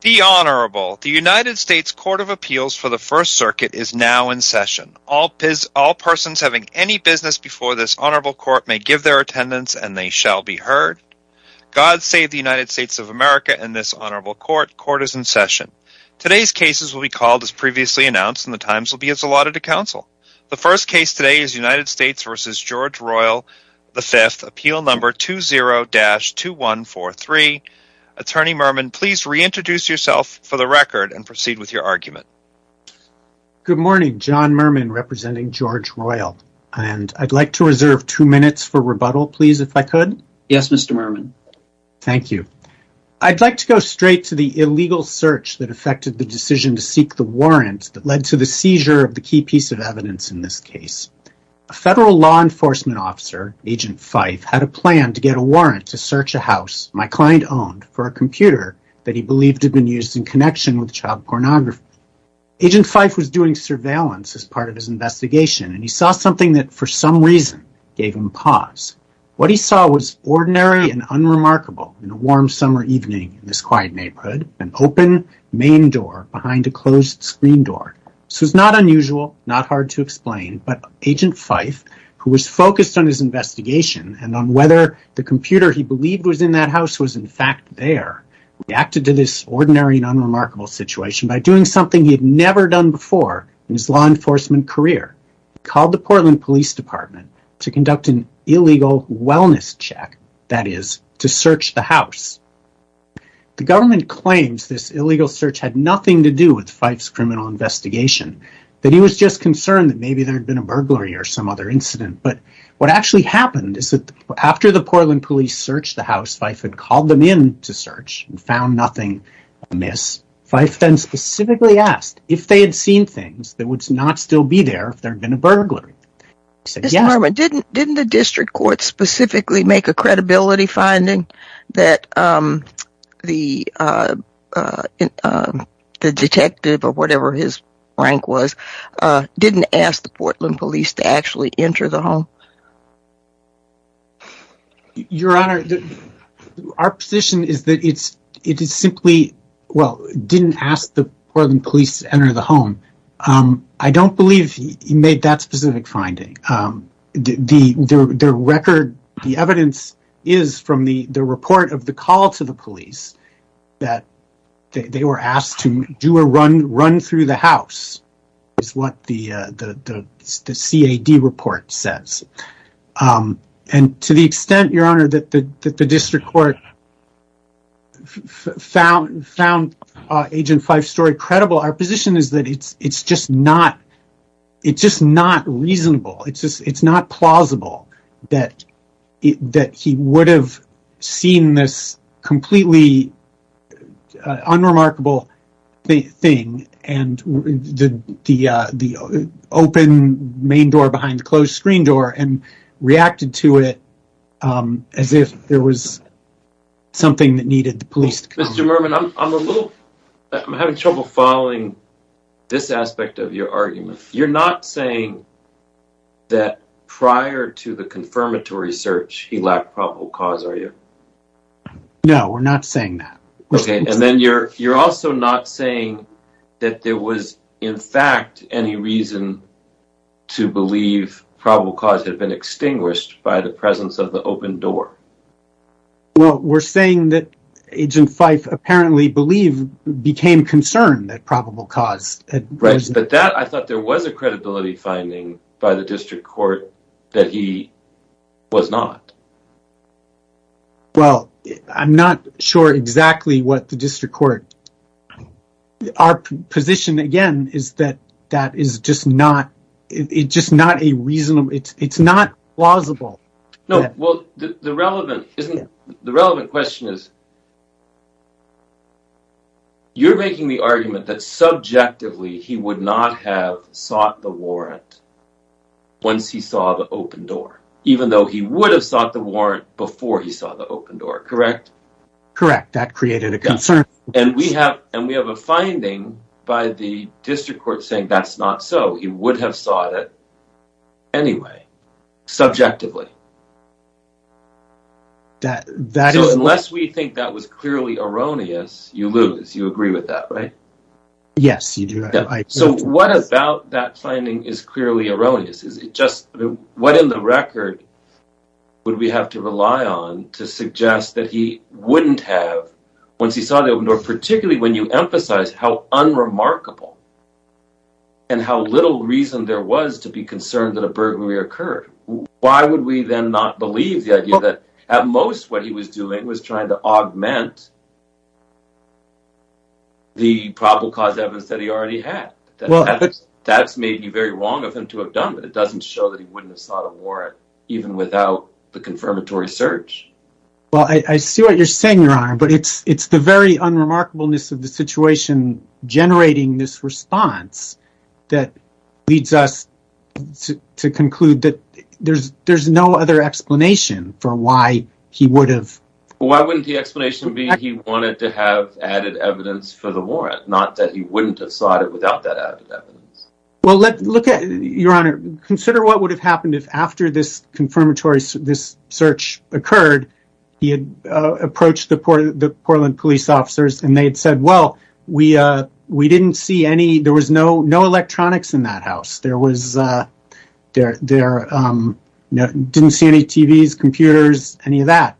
The United States Court of Appeals for the First Circuit is now in session. All persons having any business before this honorable court may give their attendance and they shall be heard. God save the United States of America and this honorable court. Court is in session. Today's cases will be called as previously announced and the times will be as allotted to counsel. The first case today is United States v. George Royle V. Appeal No. 20-2143. Attorney Mermin, please reintroduce yourself for the record and proceed with your argument. Good morning. John Mermin, representing George Royle. I'd like to reserve two minutes for rebuttal, please, if I could. Yes, Mr. Mermin. Thank you. I'd like to go straight to the illegal search that affected the decision to seek the warrant that led to the seizure of the key piece of evidence in this case. A federal law enforcement officer, Agent Fife, had a plan to get a warrant to search a house my client owned for a computer that he believed had been used in connection with child pornography. Agent Fife was doing surveillance as part of his investigation and he saw something that for some reason gave him pause. What he saw was ordinary and unremarkable in a warm summer evening in this quiet neighborhood, an open main door behind a closed screen door. This was not unusual, not hard to explain, but Agent Fife, who was focused on his investigation and on whether the computer he believed was in that house was in fact there, reacted to this ordinary and unremarkable situation by doing something he had never done before in his law enforcement career. He called the Portland Police Department to conduct an illegal wellness check, that is, to search the house. The government claims this illegal search had nothing to do with Fife's criminal investigation, that he was just concerned that maybe there had been a burglary or some other incident. But what actually happened is that after the Portland Police searched the house, Fife had called them in to search and found nothing amiss. Fife then specifically asked if they had seen things that would not still be there if there had been a burglary. Didn't the district court specifically make a credibility finding that the detective, or whatever his rank was, didn't ask the Portland Police to actually enter the home? Your Honor, our position is that it is simply, well, didn't ask the Portland Police to enter the home. I don't believe he made that specific finding. The record, the evidence is from the report of the call to the police that they were asked to do a run through the house, is what the CAD report says. To the extent, Your Honor, that the district court found Agent Fife's story credible, our position is that it's just not reasonable. It's not plausible that he would have seen this completely unremarkable thing, the open main door behind the closed screen door, and reacted to it as if there was something that needed the police to come in. Mr. Mermin, I'm having trouble following this aspect of your argument. You're not saying that prior to the confirmatory search, he lacked probable cause, are you? No, we're not saying that. Okay, and then you're also not saying that there was, in fact, any reason to believe probable cause had been extinguished by the presence of the open door. Well, we're saying that Agent Fife apparently believed, became concerned at probable cause. Right, but that, I thought there was a credibility finding by the district court that he was not. Well, I'm not sure exactly what the district court, our position again is that that is just not, it's just not a reasonable, it's not plausible. No, well, the relevant question is, you're making the argument that subjectively he would not have sought the warrant once he saw the open door, even though he would have sought the warrant before he saw the open door, correct? Correct, that created a concern. And we have a finding by the district court saying that's not so, he would have sought it anyway, subjectively. Unless we think that was clearly erroneous, you lose, you agree with that, right? Yes, you do. So what about that finding is clearly erroneous, is it just, what in the record would we have to rely on to suggest that he wouldn't have, once he saw the open door, particularly when you emphasize how unremarkable and how little reason there was to be concerned that a burglary occurred. Why would we then not believe the idea that at most what he was doing was trying to augment the probable cause evidence that he already had. That's maybe very wrong of him to have done that, it doesn't show that he wouldn't have sought a warrant even without the confirmatory search. Well, I see what you're saying, your honor, but it's the very unremarkableness of the situation generating this response that leads us to conclude that there's no other explanation for why he would have. Why wouldn't the explanation be he wanted to have added evidence for the warrant, not that he wouldn't have sought it without that added evidence. Consider what would have happened if after this search occurred, he had approached the Portland police officers and they had said, well, there was no electronics in that house, didn't see any TVs, computers, any of that.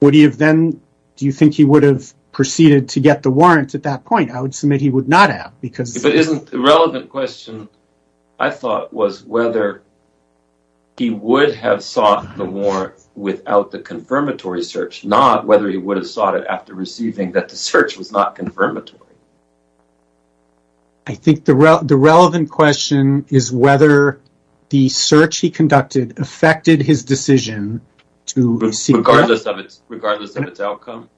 Do you think he would have proceeded to get the warrant at that point? I would submit he would not have. But isn't the relevant question, I thought, was whether he would have sought the warrant without the confirmatory search, not whether he would have sought it after receiving that the search was not confirmatory. I think the relevant question is whether the search he conducted affected his decision to receive the warrant. Regardless of its outcome?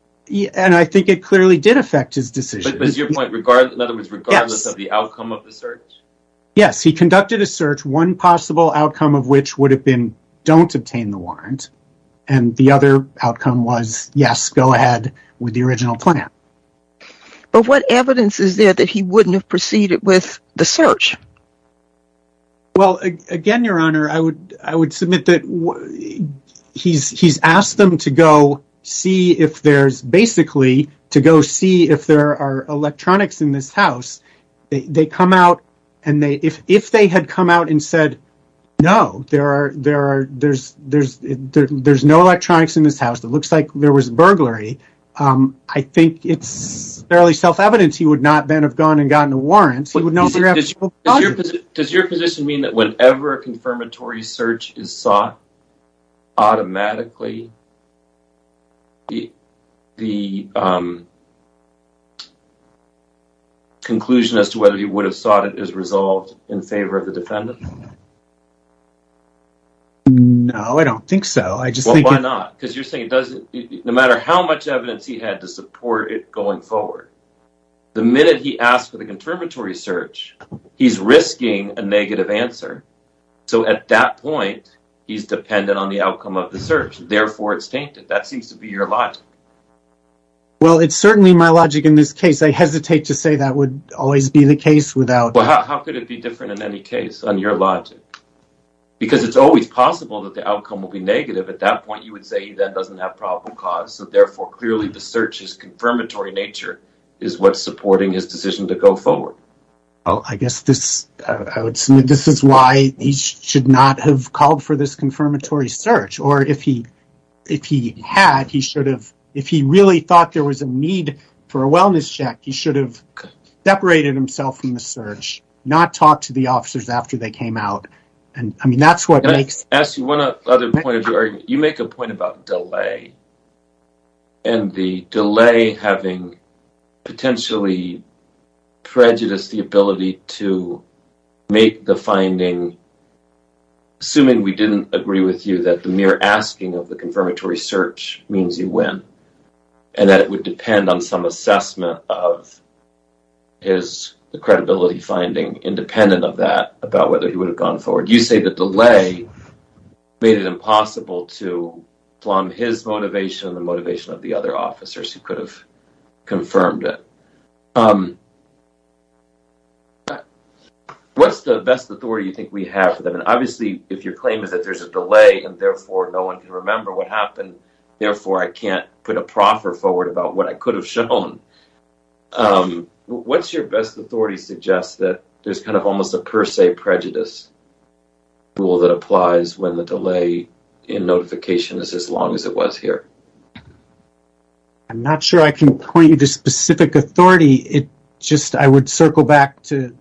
And I think it clearly did affect his decision. Regardless of the outcome of the search? Yes, he conducted a search, one possible outcome of which would have been don't obtain the warrant. And the other outcome was, yes, go ahead with the original plan. But what evidence is there that he wouldn't have proceeded with the search? Well, again, Your Honor, I would I would submit that he's asked them to go see if there's basically to go see if there are electronics in this house. They come out and they if if they had come out and said, no, there are there are there's there's there's no electronics in this house. It looks like there was burglary. I think it's fairly self-evident he would not then have gone and gotten a warrant. Does your position mean that whenever a confirmatory search is sought automatically. The. Conclusion as to whether he would have sought it is resolved in favor of the defendant. No, I don't think so. I just think. Why not? Because you're saying it doesn't matter how much evidence he had to support it going forward. The minute he asked for the confirmatory search, he's risking a negative answer. So at that point, he's dependent on the outcome of the search. Therefore, it's tainted. That seems to be your life. Well, it's certainly my logic in this case. I hesitate to say that would always be the case without. How could it be different in any case on your logic? Because it's always possible that the outcome will be negative. At that point, you would say that doesn't have probable cause. So therefore, clearly, the search is confirmatory nature is what's supporting his decision to go forward. Oh, I guess this is why he should not have called for this confirmatory search. Or if he had, he should have. If he really thought there was a need for a wellness check, he should have separated himself from the search. Not talk to the officers after they came out. And I mean, that's what makes. Ask you one other point. You make a point about delay. And the delay having potentially prejudice, the ability to make the finding. Assuming we didn't agree with you that the mere asking of the confirmatory search means you win. And that it would depend on some assessment of. Is the credibility finding independent of that about whether he would have gone forward? You say the delay made it impossible to flum his motivation, the motivation of the other officers who could have confirmed it. What's the best authority you think we have for them? And obviously, if your claim is that there's a delay and therefore no one can remember what happened. Therefore, I can't put a proffer forward about what I could have shown. What's your best authority suggests that there's kind of almost a per se prejudice? Rule that applies when the delay in notification is as long as it was here. I'm not sure I can point you to specific authority. It just I would circle back to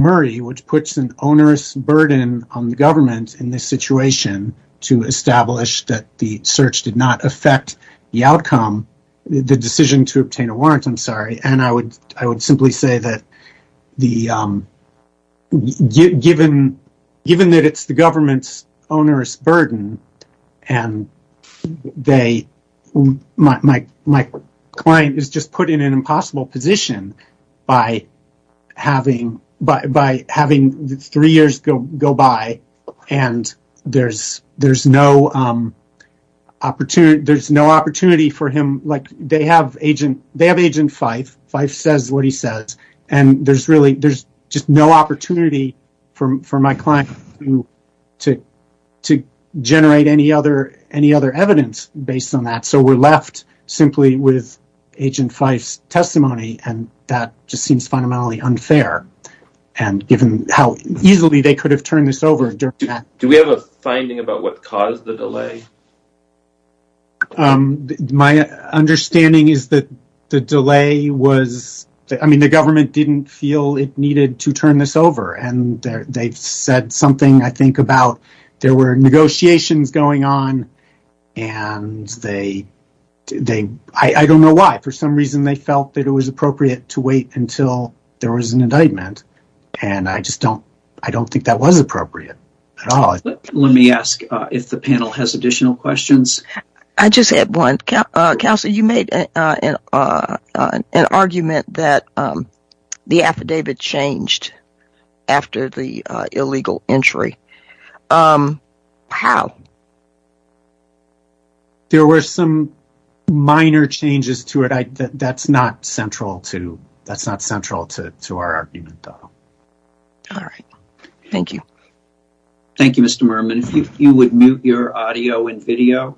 Murray, which puts an onerous burden on the government in this situation. To establish that the search did not affect the outcome, the decision to obtain a warrant. I'm sorry. And I would simply say that given that it's the government's onerous burden and my client is just put in an impossible position by having three years go by. And there's no opportunity for him. They have agent Fife. Fife says what he says. And there's really there's just no opportunity for my client to generate any other evidence based on that. So we're left simply with agent Fife's testimony. And that just seems fundamentally unfair. And given how easily they could have turned this over. Do we have a finding about what caused the delay? My understanding is that the delay was I mean, the government didn't feel it needed to turn this over. And they've said something, I think, about there were negotiations going on. And they they I don't know why. For some reason, they felt that it was appropriate to wait until there was an indictment. And I just don't I don't think that was appropriate at all. Let me ask if the panel has additional questions. I just had one council. You made an argument that the affidavit changed after the illegal entry. How? There were some minor changes to it. That's not central to that's not central to our argument, though. All right. Thank you. Thank you, Mr. If you would mute your audio and video.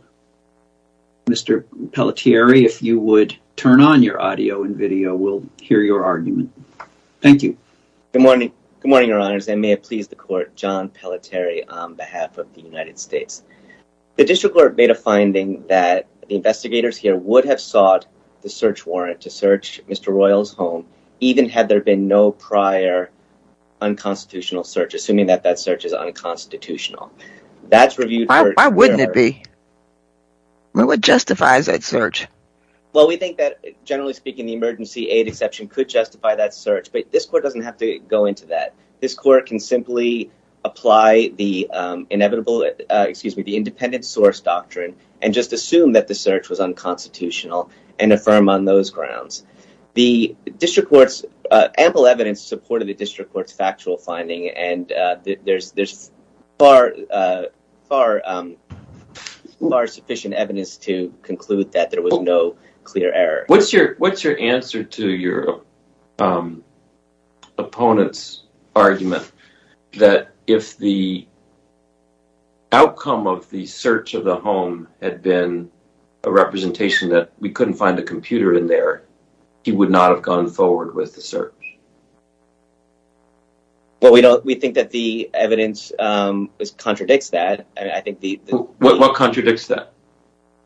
Mr. Pelletieri, if you would turn on your audio and video, we'll hear your argument. Thank you. Good morning. Good morning, Your Honors. I may have pleased the court, John Pelletieri, on behalf of the United States. The district court made a finding that the investigators here would have sought the search warrant to search Mr. Royal's home, even had there been no prior unconstitutional search, assuming that that search is unconstitutional. That's reviewed. Why wouldn't it be? What justifies that search? Well, we think that, generally speaking, the emergency aid exception could justify that search. But this court doesn't have to go into that. This court can simply apply the inevitable excuse me, the independent source doctrine and just assume that the search was unconstitutional and affirm on those grounds. The district court's ample evidence supported the district court's factual finding. And there's there's far, far, far sufficient evidence to conclude that there was no clear error. What's your what's your answer to your opponent's argument that if the. Outcome of the search of the home had been a representation that we couldn't find a computer in there, he would not have gone forward with the search. Well, we don't we think that the evidence contradicts that. What contradicts that?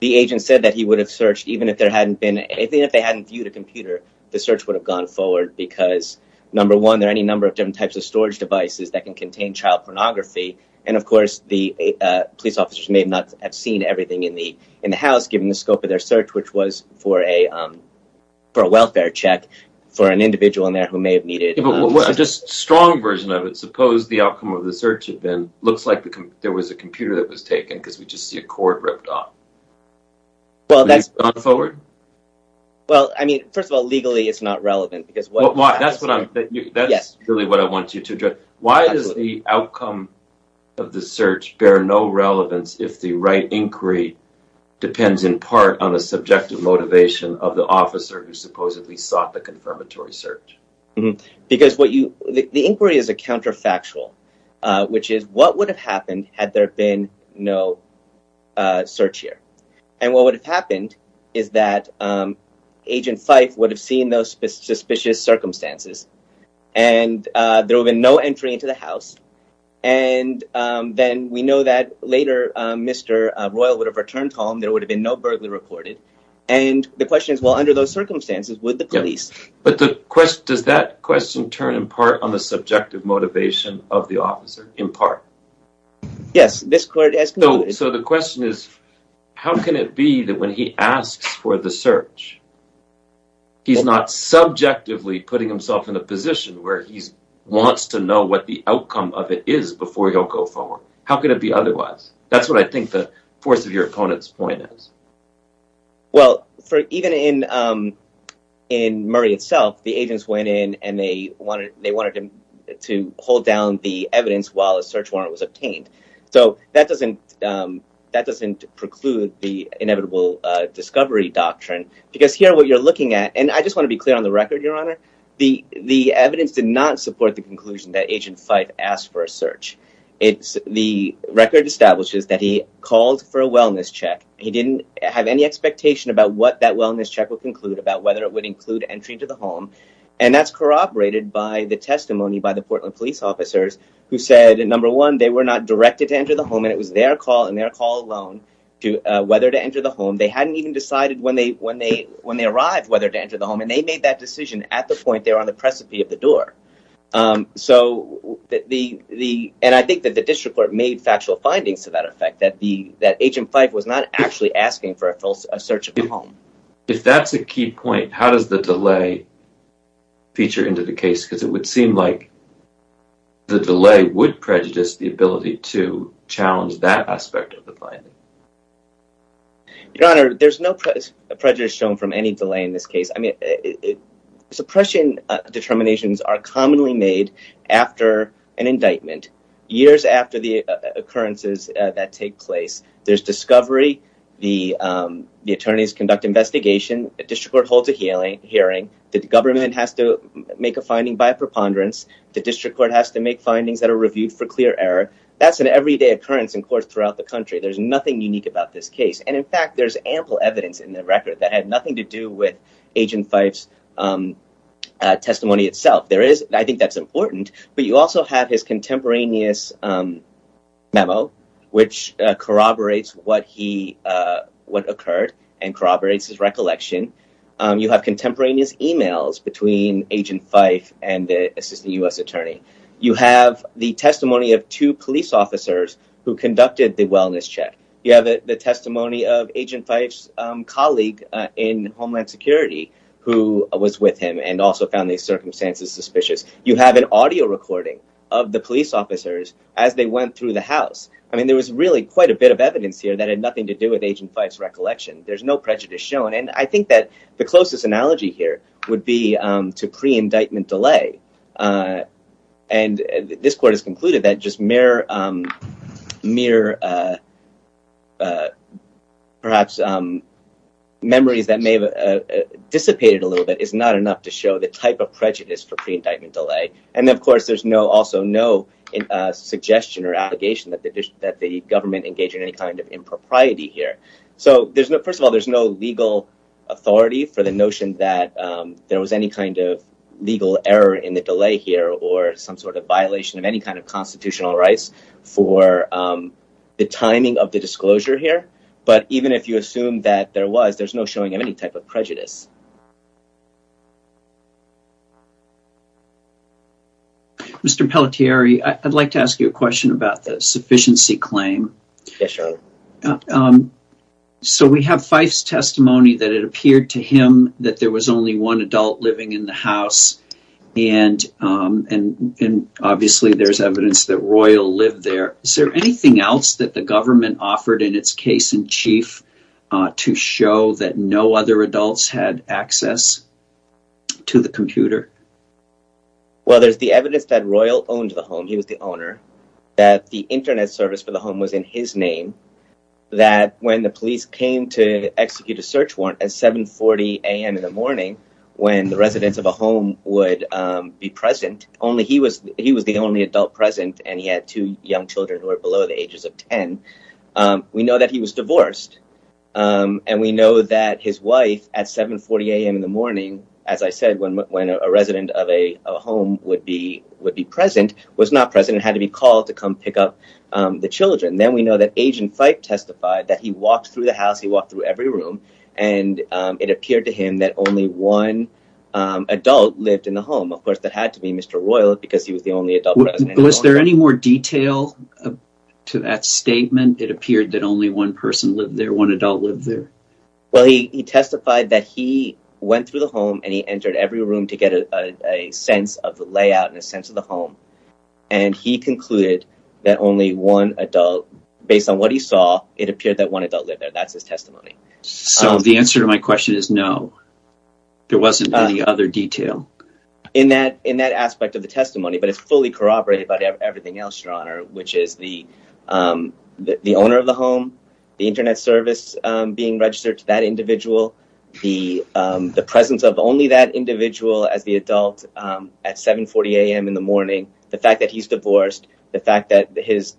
The agent said that he would have searched even if there hadn't been anything, if they hadn't viewed a computer, the search would have gone forward because, number one, there are any number of different types of storage devices that can contain child pornography. And, of course, the police officers may not have seen everything in the in the house, given the scope of their search, which was for a for a welfare check for an individual in there who may have needed just strong version of it. So suppose the outcome of the search had been looks like there was a computer that was taken because we just see a cord ripped off. Well, that's forward. Well, I mean, first of all, legally, it's not relevant because that's what I'm that's really what I want you to do. Why is the outcome of the search bear no relevance if the right inquiry depends in part on the subjective motivation of the officer who supposedly sought the confirmatory search? Because what you the inquiry is a counterfactual, which is what would have happened had there been no search here. And what would have happened is that Agent Fife would have seen those suspicious circumstances and there have been no entry into the house. And then we know that later, Mr. Royal would have returned home. There would have been no burglary reported. And the question is, well, under those circumstances, would the police. But the question is, does that question turn in part on the subjective motivation of the officer in part? Yes, this court has. So the question is, how can it be that when he asks for the search? He's not subjectively putting himself in a position where he wants to know what the outcome of it is before he'll go forward. How could it be otherwise? That's what I think the force of your opponent's point is. Well, for even in in Murray itself, the agents went in and they wanted they wanted to hold down the evidence while a search warrant was obtained. So that doesn't that doesn't preclude the inevitable discovery doctrine, because here what you're looking at. And I just want to be clear on the record, your honor. The the evidence did not support the conclusion that Agent Fife asked for a search. It's the record establishes that he called for a wellness check. He didn't have any expectation about what that wellness check would conclude, about whether it would include entry to the home. And that's corroborated by the testimony by the Portland police officers who said, number one, they were not directed to enter the home. And it was their call and their call alone to whether to enter the home. They hadn't even decided when they when they when they arrived, whether to enter the home. And they made that decision at the point they were on the precipice of the door. So the the and I think that the district court made factual findings to that effect, that the that Agent Fife was not actually asking for a search of the home. If that's a key point, how does the delay feature into the case? Because it would seem like. The delay would prejudice the ability to challenge that aspect of the plan. Your honor, there's no prejudice shown from any delay in this case. I mean, suppression determinations are commonly made after an indictment, years after the occurrences that take place. There's discovery. The attorneys conduct investigation. The district court holds a hearing hearing. The government has to make a finding by preponderance. The district court has to make findings that are reviewed for clear error. That's an everyday occurrence in court throughout the country. There's nothing unique about this case. And in fact, there's ample evidence in the record that had nothing to do with Agent Fife's testimony itself. There is. I think that's important. But you also have his contemporaneous memo, which corroborates what he what occurred and corroborates his recollection. You have contemporaneous emails between Agent Fife and the assistant U.S. attorney. You have the testimony of two police officers who conducted the wellness check. You have the testimony of Agent Fife's colleague in Homeland Security who was with him and also found these circumstances suspicious. You have an audio recording of the police officers as they went through the house. I mean, there was really quite a bit of evidence here that had nothing to do with Agent Fife's recollection. There's no prejudice shown. And I think that the closest analogy here would be to pre-indictment delay. And this court has concluded that just mere, perhaps memories that may have dissipated a little bit is not enough to show the type of prejudice for pre-indictment delay. And of course, there's no also no suggestion or allegation that the government engaged in any kind of impropriety here. So there's no first of all, there's no legal authority for the notion that there was any kind of legal error in the delay here or some sort of violation of any kind of constitutional rights for the timing of the disclosure here. But even if you assume that there was, there's no showing of any type of prejudice. Mr. Pelletieri, I'd like to ask you a question about the sufficiency claim. So we have Fife's testimony that it appeared to him that there was only one adult living in the house. And obviously there's evidence that Royal lived there. Is there anything else that the government offered in its case in chief to show that no other adults had access to the computer? Well, there's the evidence that Royal owned the home. He was the owner that the Internet service for the home was in his name. That when the police came to execute a search warrant at 740 a.m. in the morning, when the residents of a home would be present, only he was he was the only adult present. And he had two young children who are below the ages of 10. We know that he was divorced. And we know that his wife at 740 a.m. in the morning, as I said, when a resident of a home would be would be present, was not present and had to be called to come pick up the children. Then we know that Agent Fife testified that he walked through the house. He walked through every room and it appeared to him that only one adult lived in the home. Of course, that had to be Mr. Royal because he was the only adult. Was there any more detail to that statement? It appeared that only one person lived there. One adult lived there. Well, he testified that he went through the home and he entered every room to get a sense of the layout and a sense of the home. And he concluded that only one adult, based on what he saw, it appeared that one adult lived there. That's his testimony. So the answer to my question is no. There wasn't any other detail in that in that aspect of the testimony. But it's fully corroborated by everything else, your honor, which is the the owner of the home, the Internet service being registered to that individual. The the presence of only that individual as the adult at 740 a.m. in the morning. The fact that he's divorced, the fact that his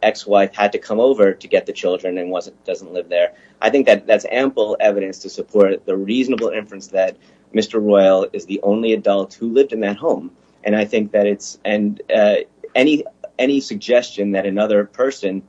ex-wife had to come over to get the children and wasn't doesn't live there. I think that that's ample evidence to support the reasonable inference that Mr. Royal is the only adult who lived in that home. And I think that it's and any any suggestion that another person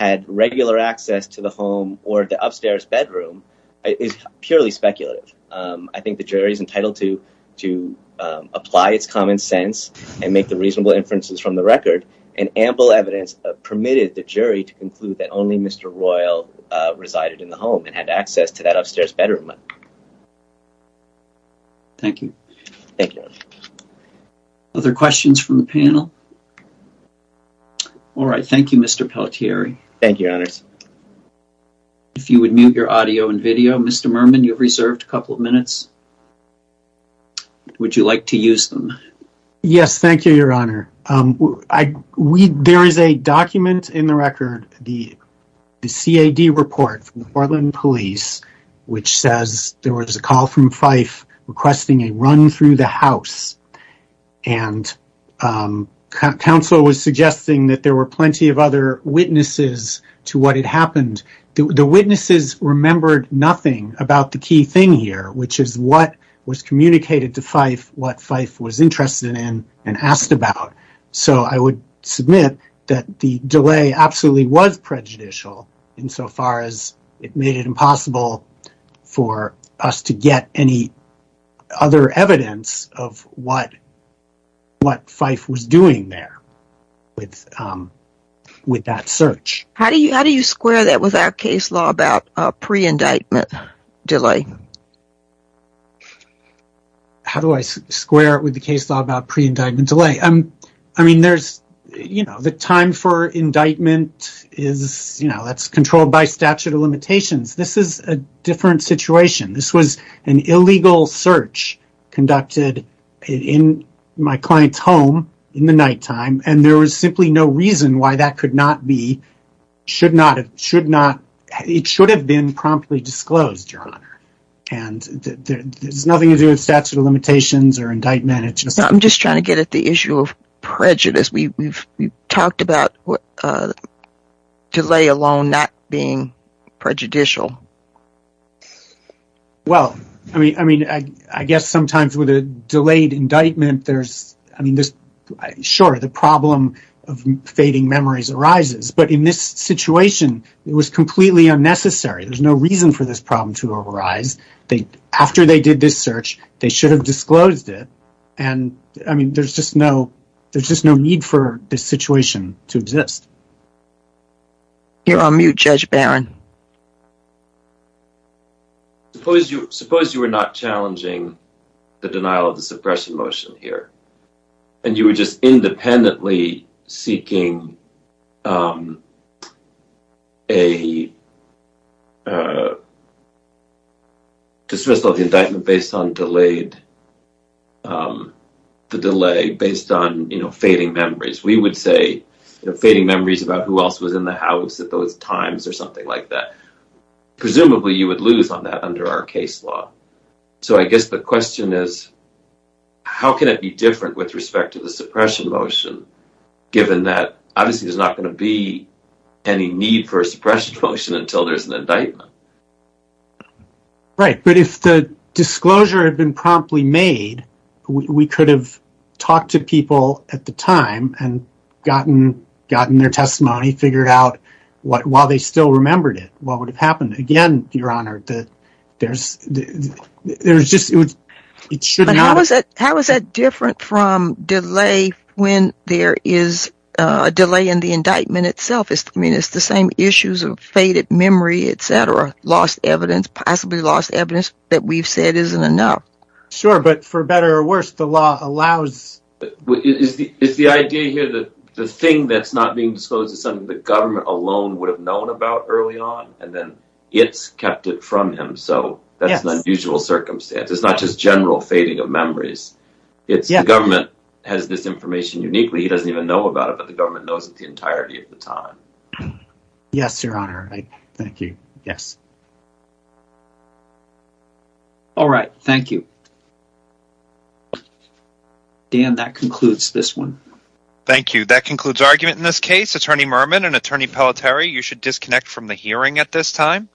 had regular access to the home or the upstairs bedroom is purely speculative. I think the jury is entitled to to apply its common sense and make the reasonable inferences from the record. And ample evidence permitted the jury to conclude that only Mr. Royal resided in the home and had access to that upstairs bedroom. Thank you. Thank you. Other questions from the panel? All right. Thank you, Mr. Pelletieri. Thank you, your honor. If you would mute your audio and video. Mr. Merman, you've reserved a couple of minutes. Would you like to use them? Yes. Thank you, your honor. There is a document in the record, the C.A.D. report from the Portland Police, which says there was a call from Fife requesting a run through the house. And counsel was suggesting that there were plenty of other witnesses to what had happened. The witnesses remembered nothing about the key thing here, which is what was communicated to Fife, what Fife was interested in and asked about. So I would submit that the delay absolutely was prejudicial insofar as it made it impossible for us to get any other evidence of what Fife was doing there with that search. How do you square that with our case law about pre-indictment delay? How do I square it with the case law about pre-indictment delay? I mean, there's, you know, the time for indictment is, you know, that's controlled by statute of limitations. This is a different situation. This was an illegal search conducted in my client's home in the nighttime, and there was simply no reason why that could not be, should not have, should not, it should have been promptly disclosed, your honor. And there's nothing to do with statute of limitations or indictment. I'm just trying to get at the issue of prejudice. We've talked about delay alone not being prejudicial. Well, I mean, I guess sometimes with a delayed indictment, there's, I mean, sure, the problem of fading memories arises. But in this situation, it was completely unnecessary. After they did this search, they should have disclosed it. And, I mean, there's just no need for this situation to exist. You're on mute, Judge Barron. Suppose you were not challenging the denial of the suppression motion here, and you were just independently seeking a dismissal of the indictment based on delayed, the delay based on, you know, fading memories. We would say, you know, fading memories about who else was in the house at those times or something like that. Presumably, you would lose on that under our case law. So I guess the question is, how can it be different with respect to the suppression motion, given that, obviously, there's not going to be any need for a suppression motion until there's an indictment. Right. But if the disclosure had been promptly made, we could have talked to people at the time and gotten their testimony, figured out what, while they still remembered it, what would have happened. Again, Your Honor, there's just, it should not have. How is that different from delay when there is a delay in the indictment itself? I mean, it's the same issues of faded memory, et cetera, lost evidence, possibly lost evidence that we've said isn't enough. Sure, but for better or worse, the law allows. It's the idea here that the thing that's not being disclosed is something the government alone would have known about early on. And then it's kept it from him. So that's an unusual circumstance. It's not just general fading of memories. It's the government has this information uniquely. He doesn't even know about it, but the government knows it the entirety of the time. Yes, Your Honor. Thank you. Yes. All right. Thank you. Dan, that concludes this one. Thank you. That concludes argument in this case. Attorney Mermin and Attorney Palateri, you should disconnect from the hearing at this time.